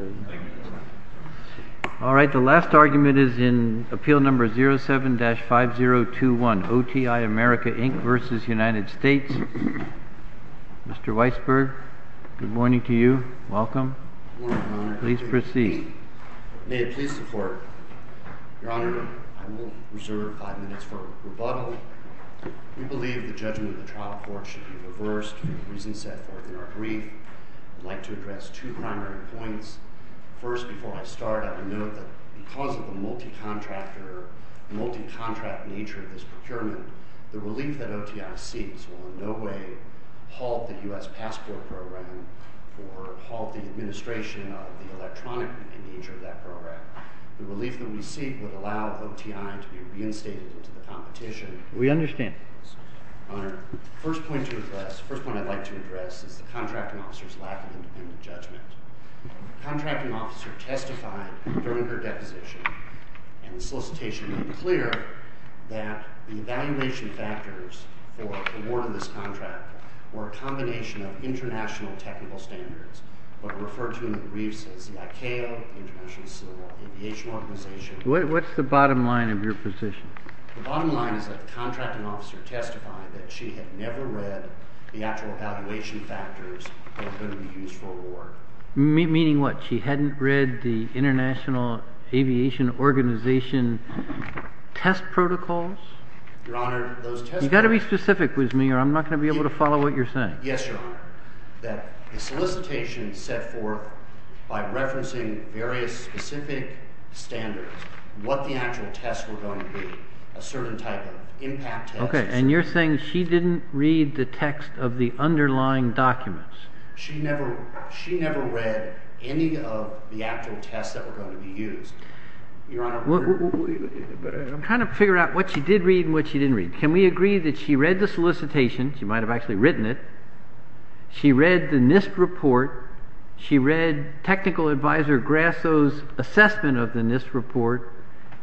Mr. Weisberg, good morning to you. Welcome. Please proceed. May it please the Court, Your Honor, I will reserve five minutes for rebuttal. We believe the judgment of the trial court should be reversed. The reasons set forth in our brief brief would like to address two primary points. First, before I start, I would note that because of the multi-contractor, multi-contract nature of this procurement, the relief that OTI seeks will in no way halt the U.S. passport program or halt the administration of the electronic nature of that program. The relief that we seek would allow OTI to be reinstated into the competition. We understand. Your Honor, the first point to address, the first point to address is the lack of independent judgment. The contracting officer testified during her deposition in the solicitation made it clear that the evaluation factors for awarding this contract were a combination of international technical standards that are referred to in the briefs as the ICAO, International Civil Aviation Organization. What is the bottom line of your position? The bottom line is that the contracting officer testified that she had never read the actual evaluation factors that were going to be used for award. Meaning what? She hadn't read the International Aviation Organization test protocols? Your Honor, those test protocols... You've got to be specific with me or I'm not going to be able to follow what you're saying. Yes, Your Honor. That the solicitation set forth by referencing various specific standards what the actual tests were going to be, a and you're saying she didn't read the text of the underlying documents. She never read any of the actual tests that were going to be used. Your Honor... I'm trying to figure out what she did read and what she didn't read. Can we agree that she read the solicitation, she might have actually written it, she read the NIST report, she read Technical Advisor Grasso's assessment of the NIST report,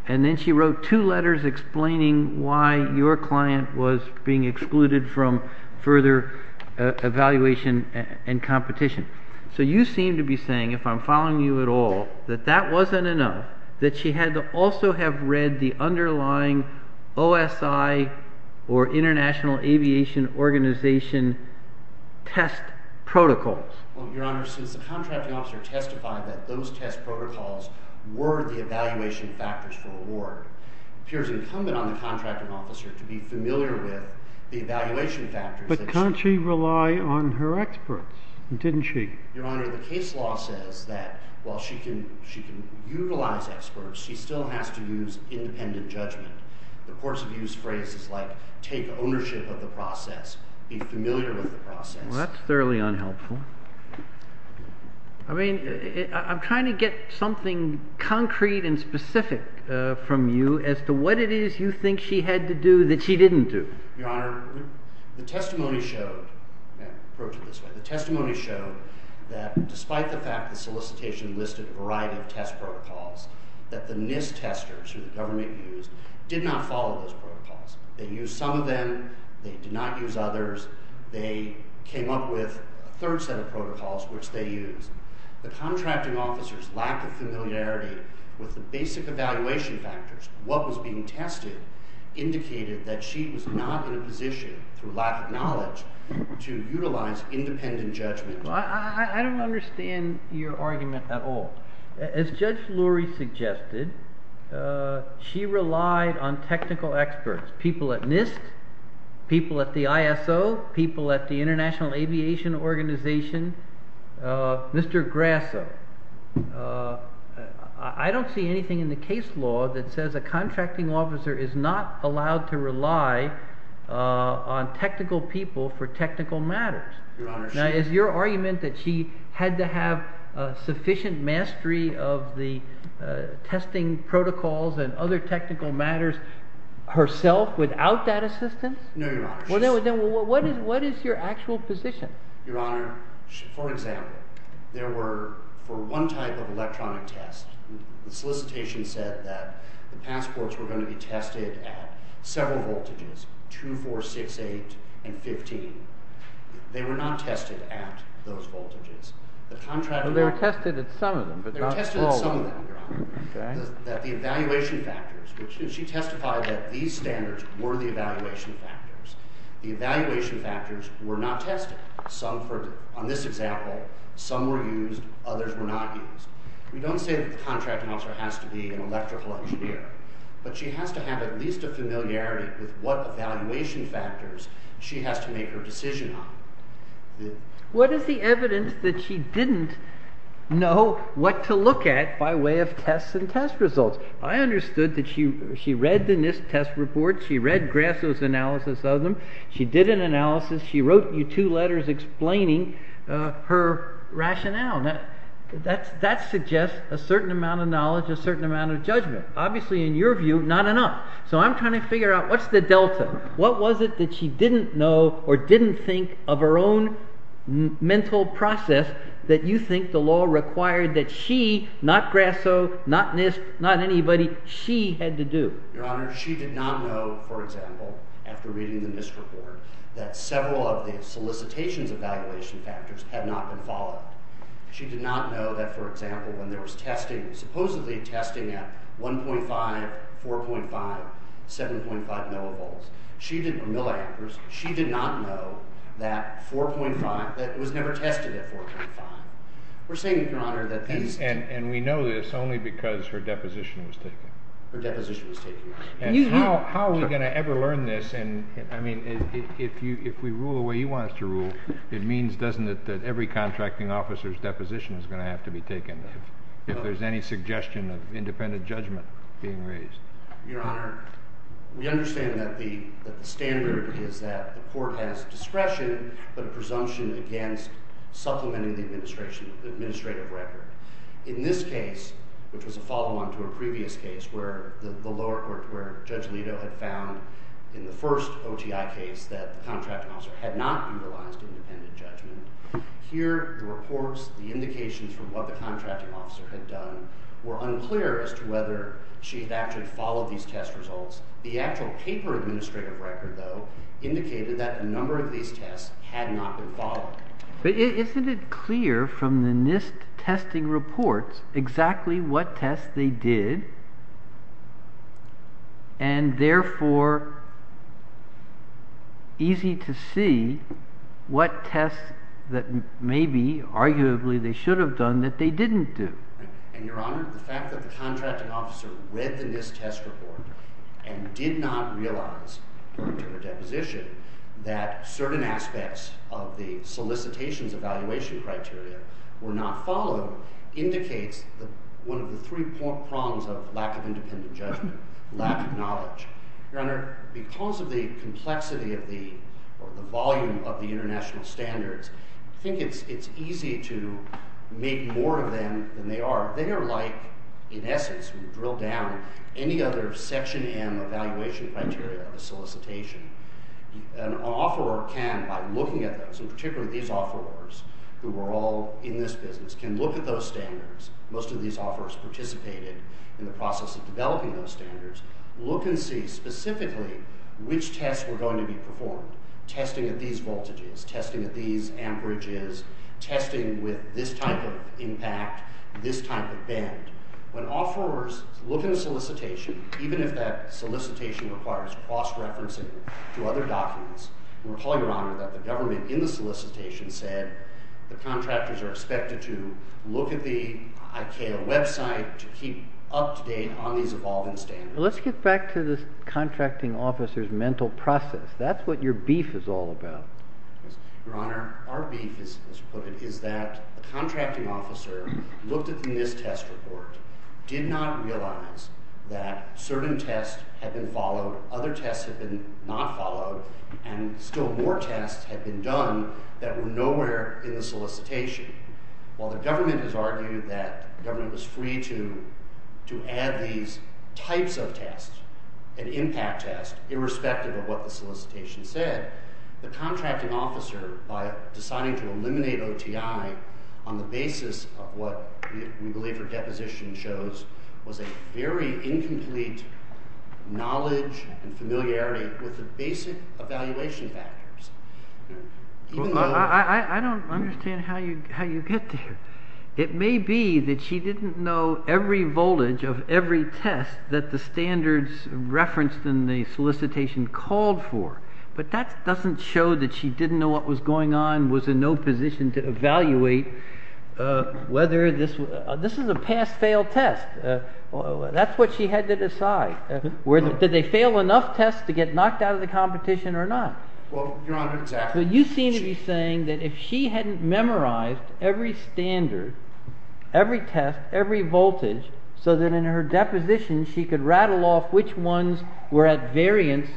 and then she wrote two letters explaining why your client was being excluded from further evaluation and competition. So you seem to be saying, if I'm following you at all, that that wasn't enough, that she had to also have read the underlying OSI or International Aviation Organization test protocols. Well, Your Honor, since the contracting officer testified that those test protocols were the evaluation factors for award, it appears incumbent on the contracting officer to be familiar with the evaluation factors. But can't she rely on her experts? Didn't she? Your Honor, the case law says that while she can utilize experts, she still has to use independent judgment. The courts have used phrases like, take ownership of the process, be familiar with the process. Well, that's thoroughly unhelpful. I mean, I'm trying to get something concrete and specific from you as to what it is you think she had to do that she didn't do. Your Honor, the testimony showed that, despite the fact that solicitation listed a variety of test protocols, that the NIST testers, who the government used, did not follow those protocols. They came up with a third set of protocols, which they used. The contracting officer's lack of familiarity with the basic evaluation factors, what was being tested, indicated that she was not in a position, through lack of knowledge, to utilize independent judgment. I don't understand your argument at all. As Judge Lurie suggested, she relied on technical experts, people at the International Aviation Organization. Mr. Grasso, I don't see anything in the case law that says a contracting officer is not allowed to rely on technical people for technical matters. Now, is your argument that she had to have sufficient mastery of the testing protocols and other technical matters herself without that assistance? No, Your Honor. Well, what is your actual position? Your Honor, for example, there were, for one type of electronic test, the solicitation said that the passports were going to be tested at several voltages, 2, 4, 6, 8, and 15. They were not tested at those voltages. They were tested at some of them, but not all of them. They were tested at some of them, Your Honor. The evaluation factors, she testified that these standards were the evaluation factors. The evaluation factors were not tested. On this example, some were used, others were not used. We don't say that the contracting officer has to be an electrical engineer, but she has to have at least a familiarity with what evaluation factors she has to make her decision on. What is the evidence that she didn't know what to look at by way of tests and test results? I understood that she read the NIST test report. She read Grasso's analysis of them. She did an analysis. She wrote you two letters explaining her rationale. That suggests a certain amount of knowledge, a certain amount of judgment. Obviously, in your view, not enough. So I'm trying to figure out what's the delta? What was it that she didn't know or didn't think of her own mental process that you think the law required that she, not Grasso, not NIST, not anybody, she had to do? Your Honor, she did not know, for example, after reading the NIST report, that several of the solicitations evaluation factors had not been followed. She did not know that, for example, when there was testing, supposedly testing at 1.5, 4.5, 7.5 millivolts, she did not know that 4.5, that it was never tested at 4.5. We're saying, Your Honor, that these And we know this only because her deposition was taken. Her deposition was taken. How are we going to ever learn this? I mean, if we rule the way you want us to rule, it means, doesn't it, that every contracting officer's deposition is going to have to be taken if there's any suggestion of independent judgment being raised. Your Honor, we understand that the standard is that the court has discretion, but a presumption against supplementing the administrative record. In this case, which was a follow-on to a previous case where the lower court, where Judge Alito had found in the first OTI case that the contracting officer had not utilized independent judgment, here, the reports, the indications from what the contracting officer had done were unclear as to whether she had actually followed these test results. The actual paper administrative record, though, indicated that a number of these tests had not been followed. But isn't it clear from the NIST testing reports exactly what tests they did, and therefore easy to see what tests that maybe, arguably, they should have done that they didn't do? And, Your Honor, the fact that the contracting officer read the NIST test report and did not realize, according to her deposition, that certain aspects of the solicitations evaluation criteria were not followed indicates one of the three prongs of lack of independent Because of the complexity of the volume of the international standards, I think it's easy to make more of them than they are. They are like, in essence, when you drill down any other Section M evaluation criteria of a solicitation, an offeror can, by looking at those, and particularly these offerors who were all in this business, can look at those standards, most of these offerors participated in the process of developing those standards, look and see specifically which tests were going to be performed, testing at these voltages, testing at these amperages, testing with this type of impact, this type of bend. When offerors look in a solicitation, even if that solicitation requires cross-referencing to other documents, recall, Your Honor, that the government in the solicitation said the contractors are expected to look at the ICAO website to keep up-to-date on these evolving standards. Let's get back to this contracting officer's mental process. That's what your beef is all about. Your Honor, our beef, as you put it, is that the contracting officer looked at this test report, did not realize that certain tests had been followed, other tests had been not followed, and still more tests had been done that were nowhere in the solicitation. While the government has argued that the government was free to add these types of tests and impact tests, irrespective of what the solicitation said, the contracting officer, by deciding to eliminate OTI on the basis of what we believe her deposition shows, was a very incomplete knowledge and familiarity with the basic evaluation factors. I don't understand how you get there. It may be that she didn't know every voltage of every test that the standards referenced in the solicitation called for, but that doesn't show that she didn't know what was going on, was in no position to evaluate whether this was a pass-fail test. That's what she had to decide. Did they fail enough tests to get knocked out of the competition or not? Well, Your Honor, exactly. But you seem to be saying that if she hadn't memorized every standard, every test, every voltage, so that in her deposition she could rattle off which ones were at variance,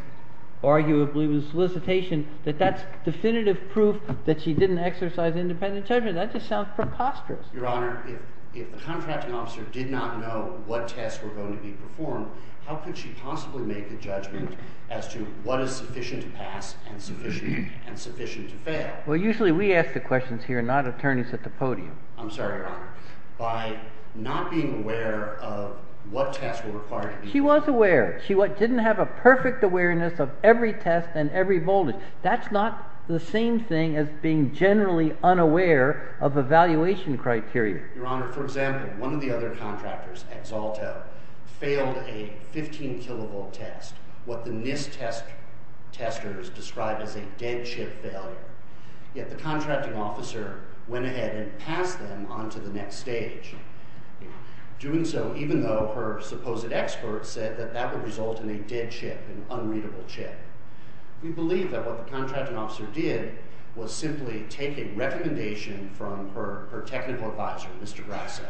arguably with the solicitation, that that's definitive proof that she didn't exercise independent judgment. That just sounds preposterous. Your Honor, if the contracting officer did not know what tests were going to be performed, how could she possibly make a judgment as to what is sufficient to pass and sufficient to fail? Well, usually we ask the questions here, not attorneys at the podium. I'm sorry, Your Honor. By not being aware of what tests were required to be performed. She was aware. She didn't have a perfect awareness of every test and every voltage. That's not the same thing as being generally unaware of evaluation criteria. Your Honor, for example, one of the other contractors, Exalto, failed a 15 kilovolt test, what the NIST testers described as a dead chip failure. Yet the contracting officer went ahead and passed them on to the next stage, doing so even though her supposed expert said that that would result in a dead chip, an unreadable chip. We believe that what the contracting officer did was simply take a recommendation from her technical advisor, Mr. Brasso,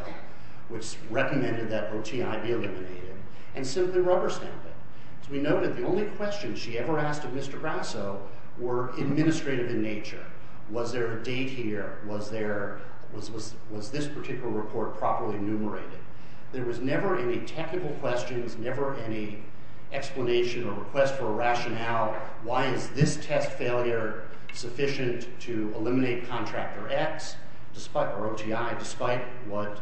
which recommended that OTI be eliminated, and simply rubber stamped it. As we noted, the only questions she ever asked of Mr. Brasso were administrative in nature. Was there a date here? Was this particular report properly enumerated? There was never any technical questions, never any explanation or request for a rationale. Why is this test failure sufficient to eliminate contractor X or OTI, despite what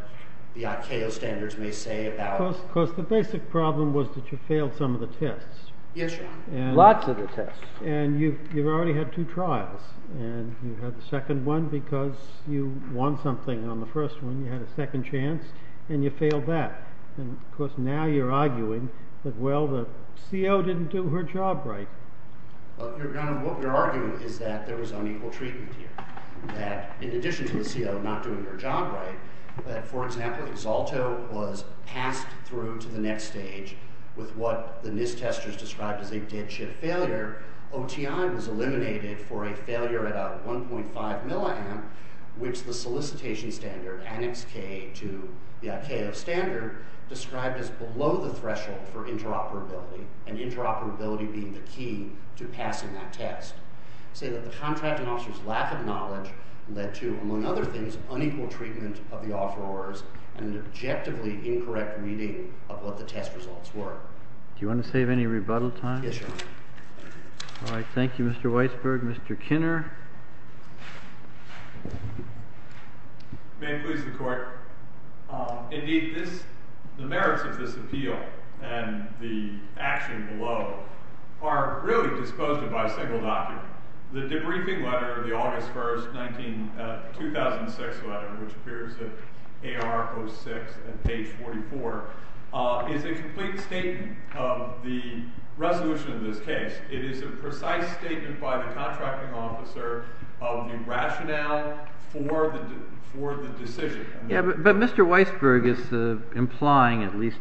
the ICAO standards may say about it? Because the basic problem was that you failed some of the tests. Yes, Your Honor. Lots of the tests. And you've already had two trials, and you had the second one because you won something on the first one. You had a second chance, and you failed that. And, of course, now you're arguing that, well, the CO didn't do her job right. Well, Your Honor, what we're arguing is that there was unequal treatment here. That in addition to the CO not doing her job right, that, for example, Exalto was passed through to the next stage with what the NIST testers described as a dead chip failure. OTI was eliminated for a failure at a 1.5 milliamp, which the solicitation standard, annex K to the ICAO standard, described as below the threshold for interoperability, and interoperability being the key to passing that test. I say that the contracting officer's lack of knowledge led to, among other things, unequal treatment of the offerors and an objectively incorrect reading of what the test results were. Do you want to save any rebuttal time? Yes, Your Honor. All right. Thank you, Mr. Weisberg. Mr. Kinner? May it please the Court. Indeed, the merits of this appeal and the action below are really disposed of by a single document. The debriefing letter, the August 1, 2006 letter, which appears at AR 06 at page 44, is a complete statement of the resolution of this case. It is a precise statement by the contracting officer of the rationale for the decision. But Mr. Weisberg is implying, at least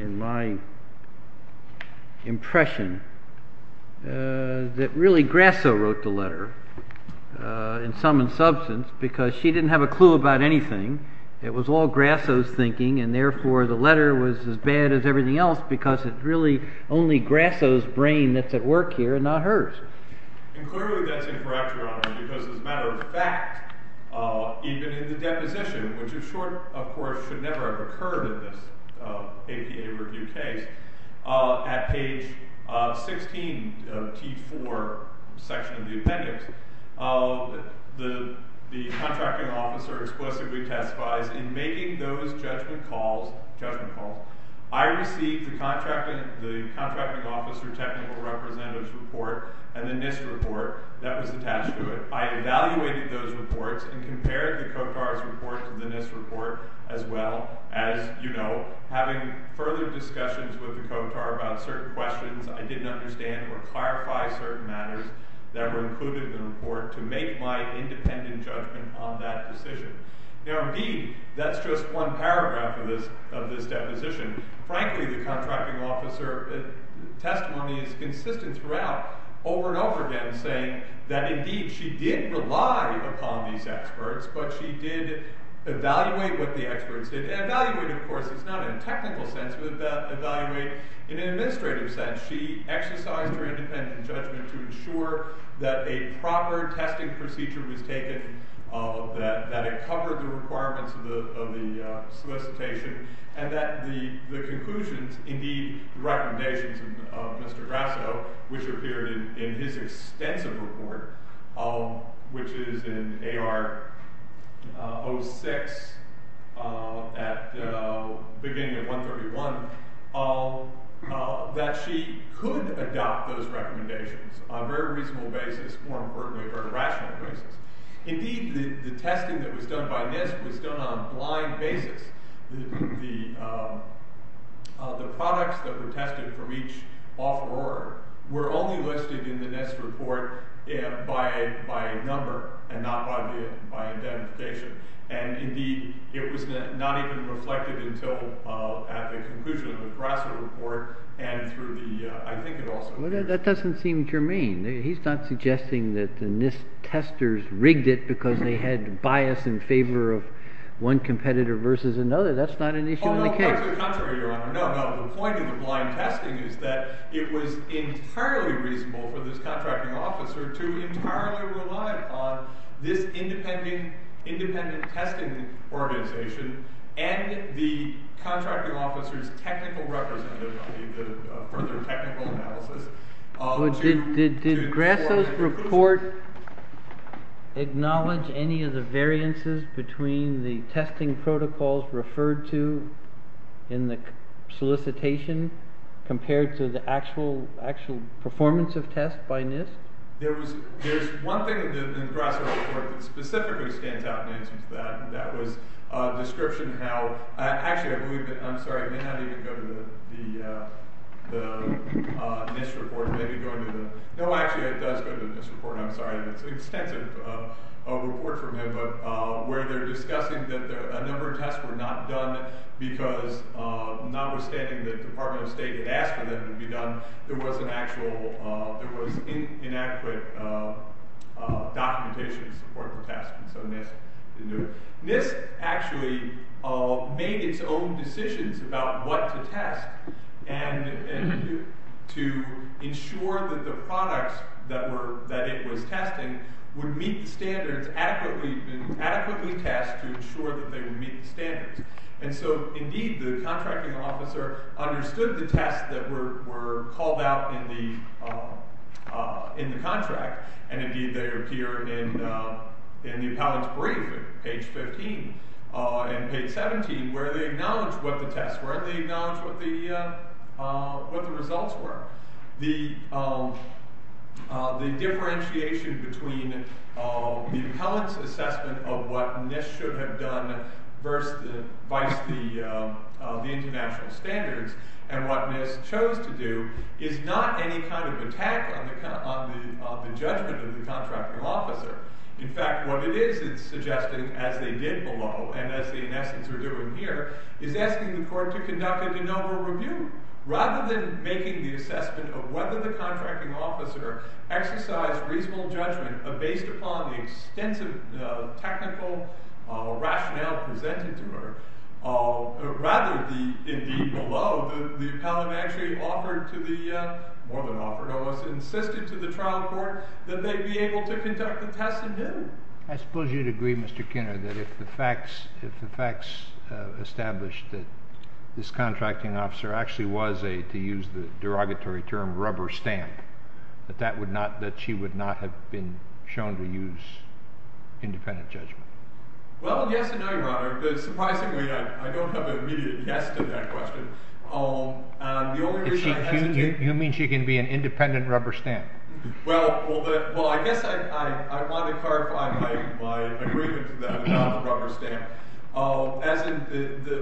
in my impression, that really Grasso wrote the letter, in sum and substance, because she didn't have a clue about anything. It was all Grasso's thinking, and therefore the letter was as bad as everything else because it's really only Grasso's brain that's at work here and not hers. And clearly that's incorrect, Your Honor, because as a matter of fact, even in the deposition, which of course should never have occurred in this APA review case, at page 16 of T4, section of the appendix, the contracting officer explicitly testifies, in making those judgment calls, I received the contracting officer technical representative's report and the NIST report that was attached to it. I evaluated those reports and compared the COTAR's report to the NIST report, as well as, you know, having further discussions with the COTAR about certain questions I didn't understand or clarify certain matters that were included in the report to make my independent judgment on that decision. Now indeed, that's just one paragraph of this deposition. Frankly, the contracting officer testimony is consistent throughout, over and over again, saying that indeed she did rely upon these experts, but she did evaluate what the experts did. Evaluate, of course, is not in a technical sense, but evaluate in an administrative sense. She exercised her independent judgment to ensure that a proper testing procedure was taken, that it covered the requirements of the solicitation, and that the conclusions, indeed, the recommendations of Mr. Grasso, which appeared in his extensive report, which is in AR 06, beginning at 131, that she could adopt those recommendations on a very reasonable basis, more importantly, a very rational basis. Indeed, the testing that was done by NIST was done on a blind basis. The products that were tested from each offeror were only listed in the NIST report by a number and not by identification. And indeed, it was not even reflected until at the conclusion of the Grasso report and through the, I think it also— Well, that doesn't seem germane. He's not suggesting that the NIST testers rigged it because they had bias in favor of one competitor versus another. That's not an issue in the case. Although, quite the contrary, Your Honor. No, no. The point of the blind testing is that it was entirely reasonable for this contracting officer to entirely rely upon this independent testing organization and the contracting officer's technical representative for their technical analysis. Did Grasso's report acknowledge any of the variances between the testing protocols referred to in the solicitation compared to the actual performance of tests by NIST? There's one thing in the Grasso report that specifically stands out, and that was a description how— Actually, I believe that—I'm sorry. It may not even go to the NIST report. It may be going to the—No, actually, it does go to the NIST report. I'm sorry. It's an extensive report from him where they're discussing that a number of tests were not done because notwithstanding the Department of State had asked for them to be done, there was an actual—there was inadequate documentation in support for testing. So NIST didn't do it. NIST actually made its own decisions about what to test and to ensure that the products that it was testing would meet the standards adequately, and adequately test to ensure that they would meet the standards. And so, indeed, the contracting officer understood the tests that were called out in the contract, and, indeed, they appear in the appellant's brief at page 15 and page 17 where they acknowledge what the tests were and they acknowledge what the results were. The differentiation between the appellant's assessment of what NIST should have done vise the international standards and what NIST chose to do is not any kind of attack on the judgment of the contracting officer. In fact, what it is, it's suggesting, as they did below and as they, in essence, are doing here, is asking the court to conduct a de novo review. Rather than making the assessment of whether the contracting officer exercised reasonable judgment based upon the extensive technical rationale presented to her, rather, indeed, below, the appellant actually offered to the, more than offered almost, insisted to the trial court that they be able to conduct the tests again. I suppose you'd agree, Mr. Kinner, that if the facts established that this contracting officer actually was a, to use the derogatory term, rubber stamp, that that would not, that she would not have been shown to use independent judgment. Well, yes and no, Your Honor, but surprisingly, I don't have an immediate yes to that question. The only reason I hesitate... You mean she can be an independent rubber stamp? Well, I guess I want to clarify my agreement to that about the rubber stamp. As in,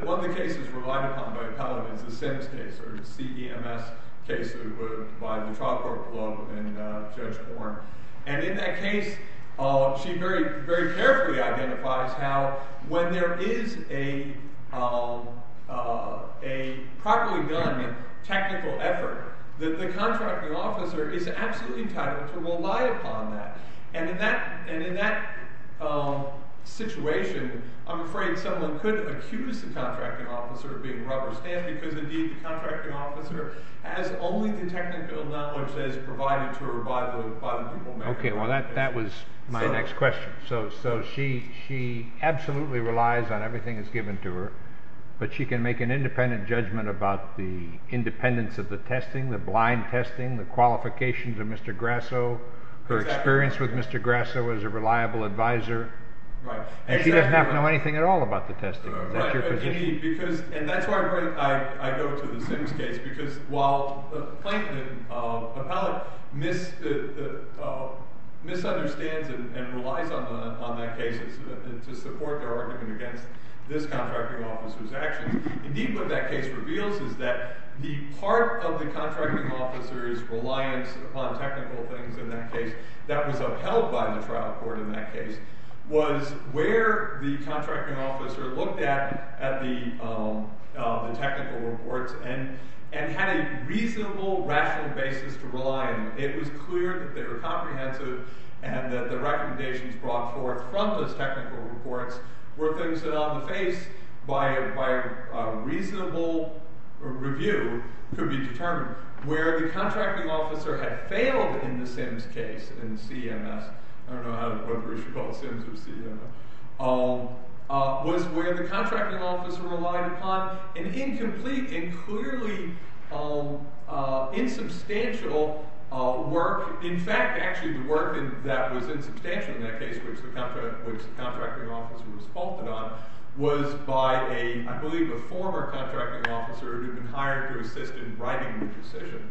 one of the cases relied upon by the appellant is the Sims case, or the CEMS case by the trial court below and Judge Horn. And in that case, she very carefully identifies how, when there is a properly done technical effort, that the contracting officer is absolutely entitled to rely upon that. And in that situation, I'm afraid someone could accuse the contracting officer of being rubber stamped, because indeed the contracting officer has only the technical knowledge that is provided to her by the people... Okay, well that was my next question. So she absolutely relies on everything that's given to her, but she can make an independent judgment about the independence of the testing, the blind testing, the qualifications of Mr. Grasso, her experience with Mr. Grasso as a reliable advisor. Right. And she doesn't have to know anything at all about the testing. Is that your position? And that's why I go to the Sims case, because while the plaintiff, the appellant, misunderstands and relies on that case to support their argument against this contracting officer's actions, indeed what that case reveals is that the part of the contracting officer's reliance upon technical things in that case that was upheld by the trial court in that case was where the contracting officer looked at the technical reports and had a reasonable, rational basis to rely on. It was clear that they were comprehensive and that the recommendations brought forth from those technical reports were things that on the face, by a reasonable review, could be determined. Where the contracting officer had failed in the Sims case, in CMS, I don't know whether we should call it Sims or CMS, was where the contracting officer relied upon an incomplete and clearly insubstantial work. In fact, actually the work that was insubstantial in that case, which the contracting officer was faulted on, was by, I believe, a former contracting officer who had been hired to assist in writing the decision.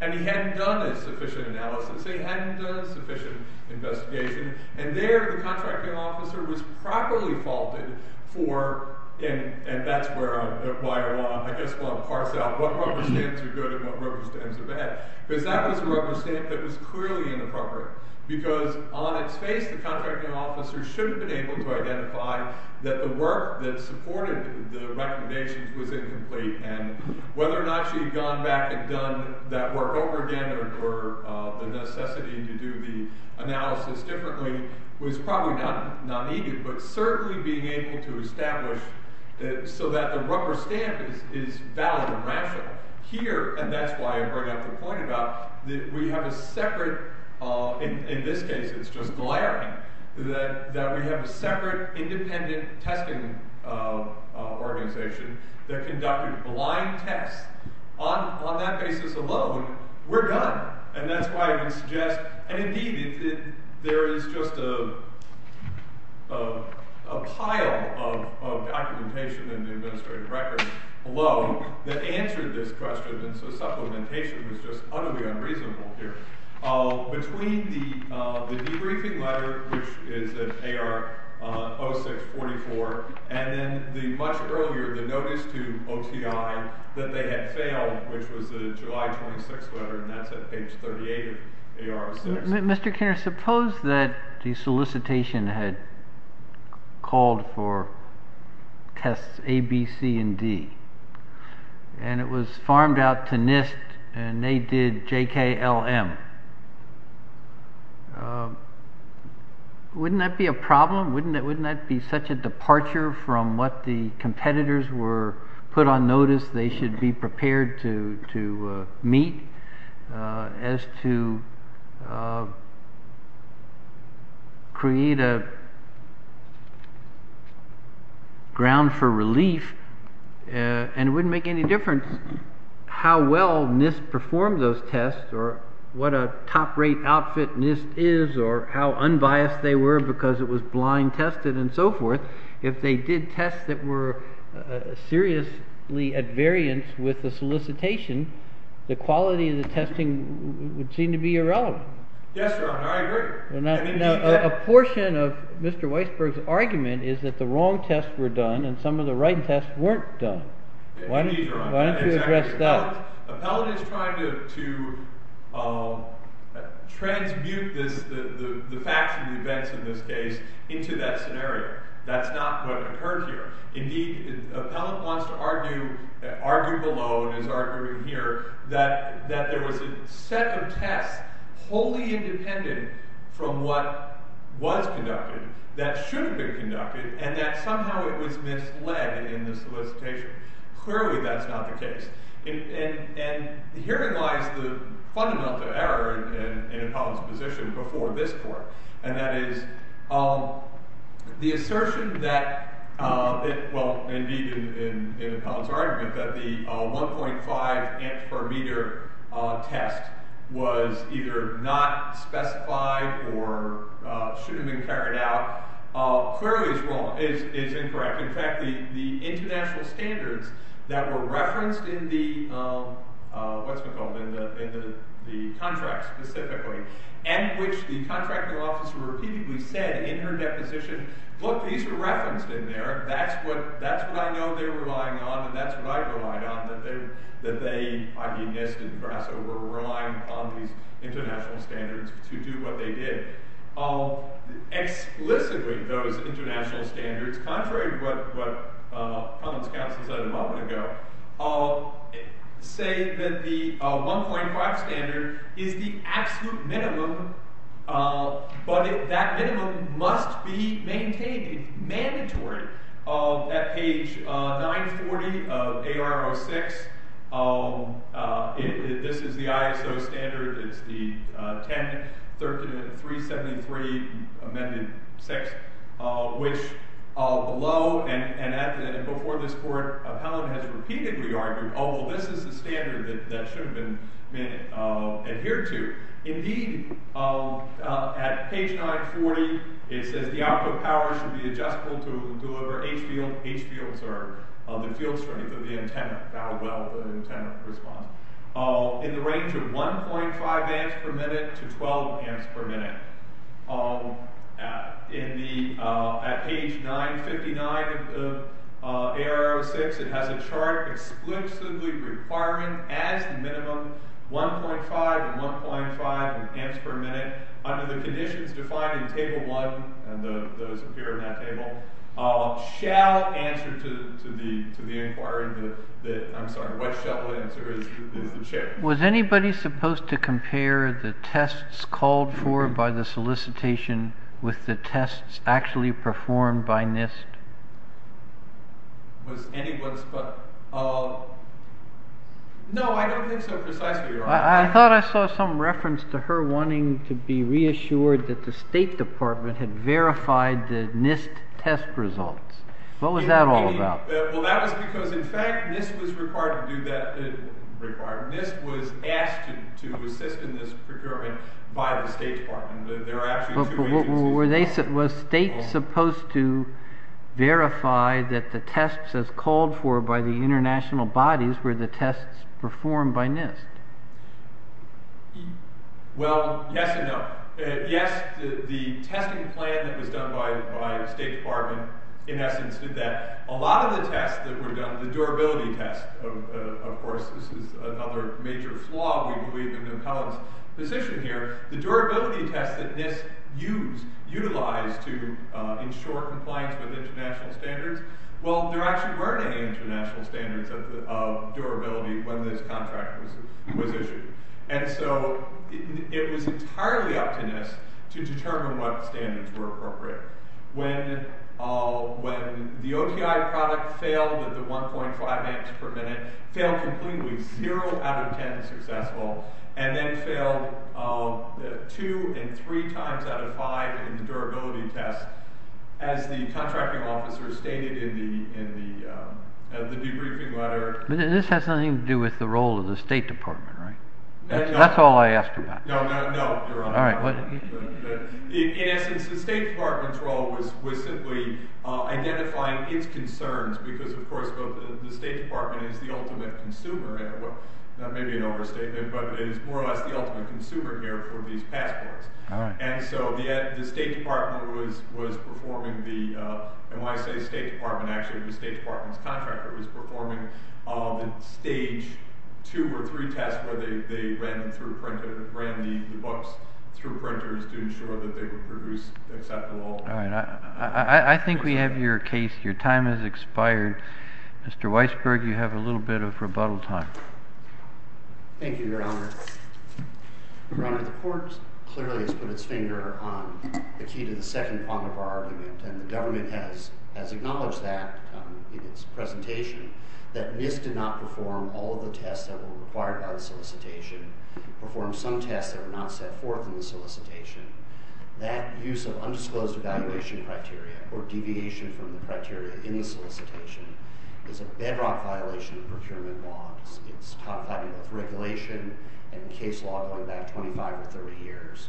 And he hadn't done a sufficient analysis, he hadn't done a sufficient investigation, and there the contracting officer was properly faulted for, and that's why I want to parse out what rubber stamps are good and what rubber stamps are bad, because that was a rubber stamp that was clearly inappropriate. Because on its face, the contracting officer should have been able to identify that the work that supported the recommendations was incomplete, and whether or not she had gone back and done that work over again or the necessity to do the analysis differently was probably not needed, but certainly being able to establish so that the rubber stamp is valid and rational. Here, and that's why I brought up the point about that we have a separate, in this case it's just glaring, that we have a separate independent testing organization that conducted blind tests. On that basis alone, we're done. And that's why I would suggest, and indeed there is just a pile of documentation in the administrative records alone that answered this question, and so supplementation was just utterly unreasonable here. Between the debriefing letter, which is at AR 0644, and then much earlier, the notice to OTI that they had failed, which was the July 26th letter, and that's at page 38 of AR 0644. Mr. Kinner, suppose that the solicitation had called for tests A, B, C, and D, and it was farmed out to NIST, and they did J, K, L, M. Wouldn't that be a problem? Wouldn't that be such a departure from what the competitors were put on notice they should be prepared to meet as to create a ground for relief? And it wouldn't make any difference how well NIST performed those tests or what a top rate outfit NIST is or how unbiased they were because it was blind tested and so forth. If they did tests that were seriously at variance with the solicitation, the quality of the testing would seem to be irrelevant. Yes, Your Honor, I agree. A portion of Mr. Weisberg's argument is that the wrong tests were done and some of the right tests weren't done. Indeed, Your Honor. Why don't you address that? Appellant is trying to transmute the facts and events in this case into that scenario. That's not what occurred here. Indeed, Appellant wants to argue below and is arguing here that there was a set of tests wholly independent from what was conducted that should have been conducted and that somehow it was misled in the solicitation. Clearly, that's not the case. And herein lies the fundamental error in Appellant's position before this court, and that is the assertion that, well, indeed in Appellant's argument, that the 1.5 amps per meter test was either not specified or shouldn't have been carried out clearly is incorrect. In fact, the international standards that were referenced in the contract specifically and which the contracting officer repeatedly said in her deposition, look, these are referenced in there. That's what I know they were relying on and that's what I relied on, that they, I.B. Nist and Grasso, were relying on these international standards to do what they did. Explicitly, those international standards, contrary to what Appellant's counsel said a moment ago, say that the 1.5 standard is the absolute minimum, but that minimum must be maintained. It's mandatory. At page 940 of AR06, this is the ISO standard, it's the 10.373 amended 6, which below and before this court, Appellant has repeatedly argued, oh, well, this is the standard that should have been adhered to. Indeed, at page 940, it says the output power should be adjustable to deliver HVL, HVLs are the field strength of the antenna, the antenna response, in the range of 1.5 amps per minute to 12 amps per minute. In the, at page 959 of AR06, it has a chart explicitly requiring, as the minimum, 1.5 and 1.5 amps per minute under the conditions defined in table 1, and those appear in that table, shall answer to the inquiry, I'm sorry, what shall answer is the chair. Was anybody supposed to compare the tests called for by the solicitation with the tests actually performed by NIST? Was anyone, no, I don't think so precisely. I thought I saw some reference to her wanting to be reassured that the State Department had verified the NIST test results. What was that all about? Well, that was because, in fact, NIST was required to do that, NIST was asked to assist in this procurement by the State Department. There were actually two agencies involved. Was state supposed to verify that the tests as called for by the international bodies were the tests performed by NIST? Well, yes and no. Yes, the testing plan that was done by the State Department, in essence, did that. A lot of the tests that were done, the durability tests, of course, this is another major flaw, we believe in McClellan's position here, the durability tests that NIST utilized to ensure compliance with international standards, well, there actually weren't any international standards of durability when this contract was issued. And so, it was entirely up to NIST to determine what standards were appropriate. When the OTI product failed at the 1.5 amps per minute, failed completely, 0 out of 10 successful, and then failed 2 and 3 times out of 5 in the durability test, as the contracting officer stated in the debriefing letter. This has nothing to do with the role of the State Department, right? That's all I asked about. No, no, no, Your Honor. In essence, the State Department's role was simply identifying its concerns, because, of course, the State Department is the ultimate consumer here. That may be an overstatement, but it is more or less the ultimate consumer here for these passports. And so, the State Department was performing the, and when I say State Department, actually the State Department's contractor was performing the stage 2 or 3 test where they ran the books through printers to ensure that they were produced acceptable. All right, I think we have your case. Your time has expired. Mr. Weisberg, you have a little bit of rebuttal time. Thank you, Your Honor. Your Honor, the court clearly has put its finger on the key to the second part of our argument, and the government has acknowledged that in its presentation, that NIST did not perform all of the tests that were required by the solicitation, performed some tests that were not set forth in the solicitation. That use of undisclosed evaluation criteria or deviation from the criteria in the solicitation is a bedrock violation of procurement law. It's codified in both regulation and case law going back 25 or 30 years.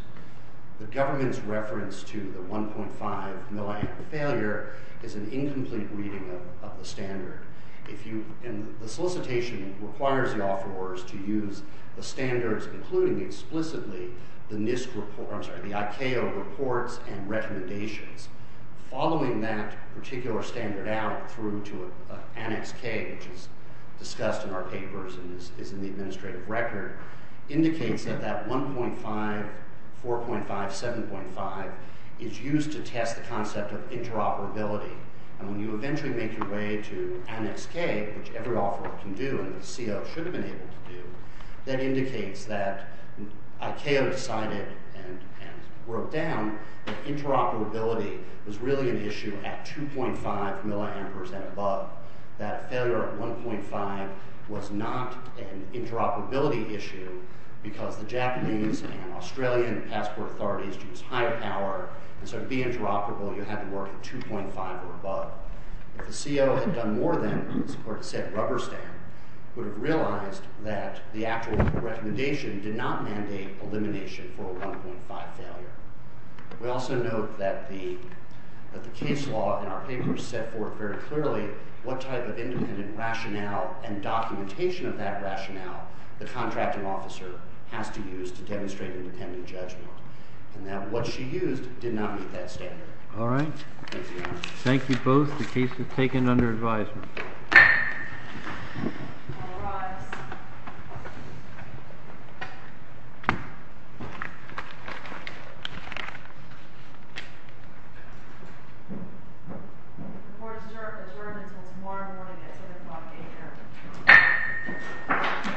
The government's reference to the 1.5 milliamp failure is an incomplete reading of the standard. If you, and the solicitation requires the offerors to use the standards, including explicitly the NIST, I'm sorry, the ICAO reports and recommendations. Following that particular standard out through to an annex K, which is discussed in our papers and is in the administrative record, indicates that that 1.5, 4.5, 7.5 is used to test the concept of interoperability. And when you eventually make your way to annex K, which every offeror can do and the CO should have been able to do, that indicates that ICAO decided and wrote down that interoperability was really an issue at 2.5 milliampers and above. That failure at 1.5 was not an interoperability issue because the Japanese and Australian passport authorities use higher power, and so to be interoperable, you had to work at 2.5 or above. If the CO had done more than support said rubber stamp, would have realized that the actual recommendation did not mandate elimination for a 1.5 failure. We also note that the case law in our papers set forth very clearly what type of independent rationale and documentation of that rationale the contracting officer has to use to demonstrate independent judgment, and that what she used did not meet that standard. All right. Thank you both. The case is taken under advisement. All rise. The court is adjourned until tomorrow morning at 10 o'clock a.m. Thank you.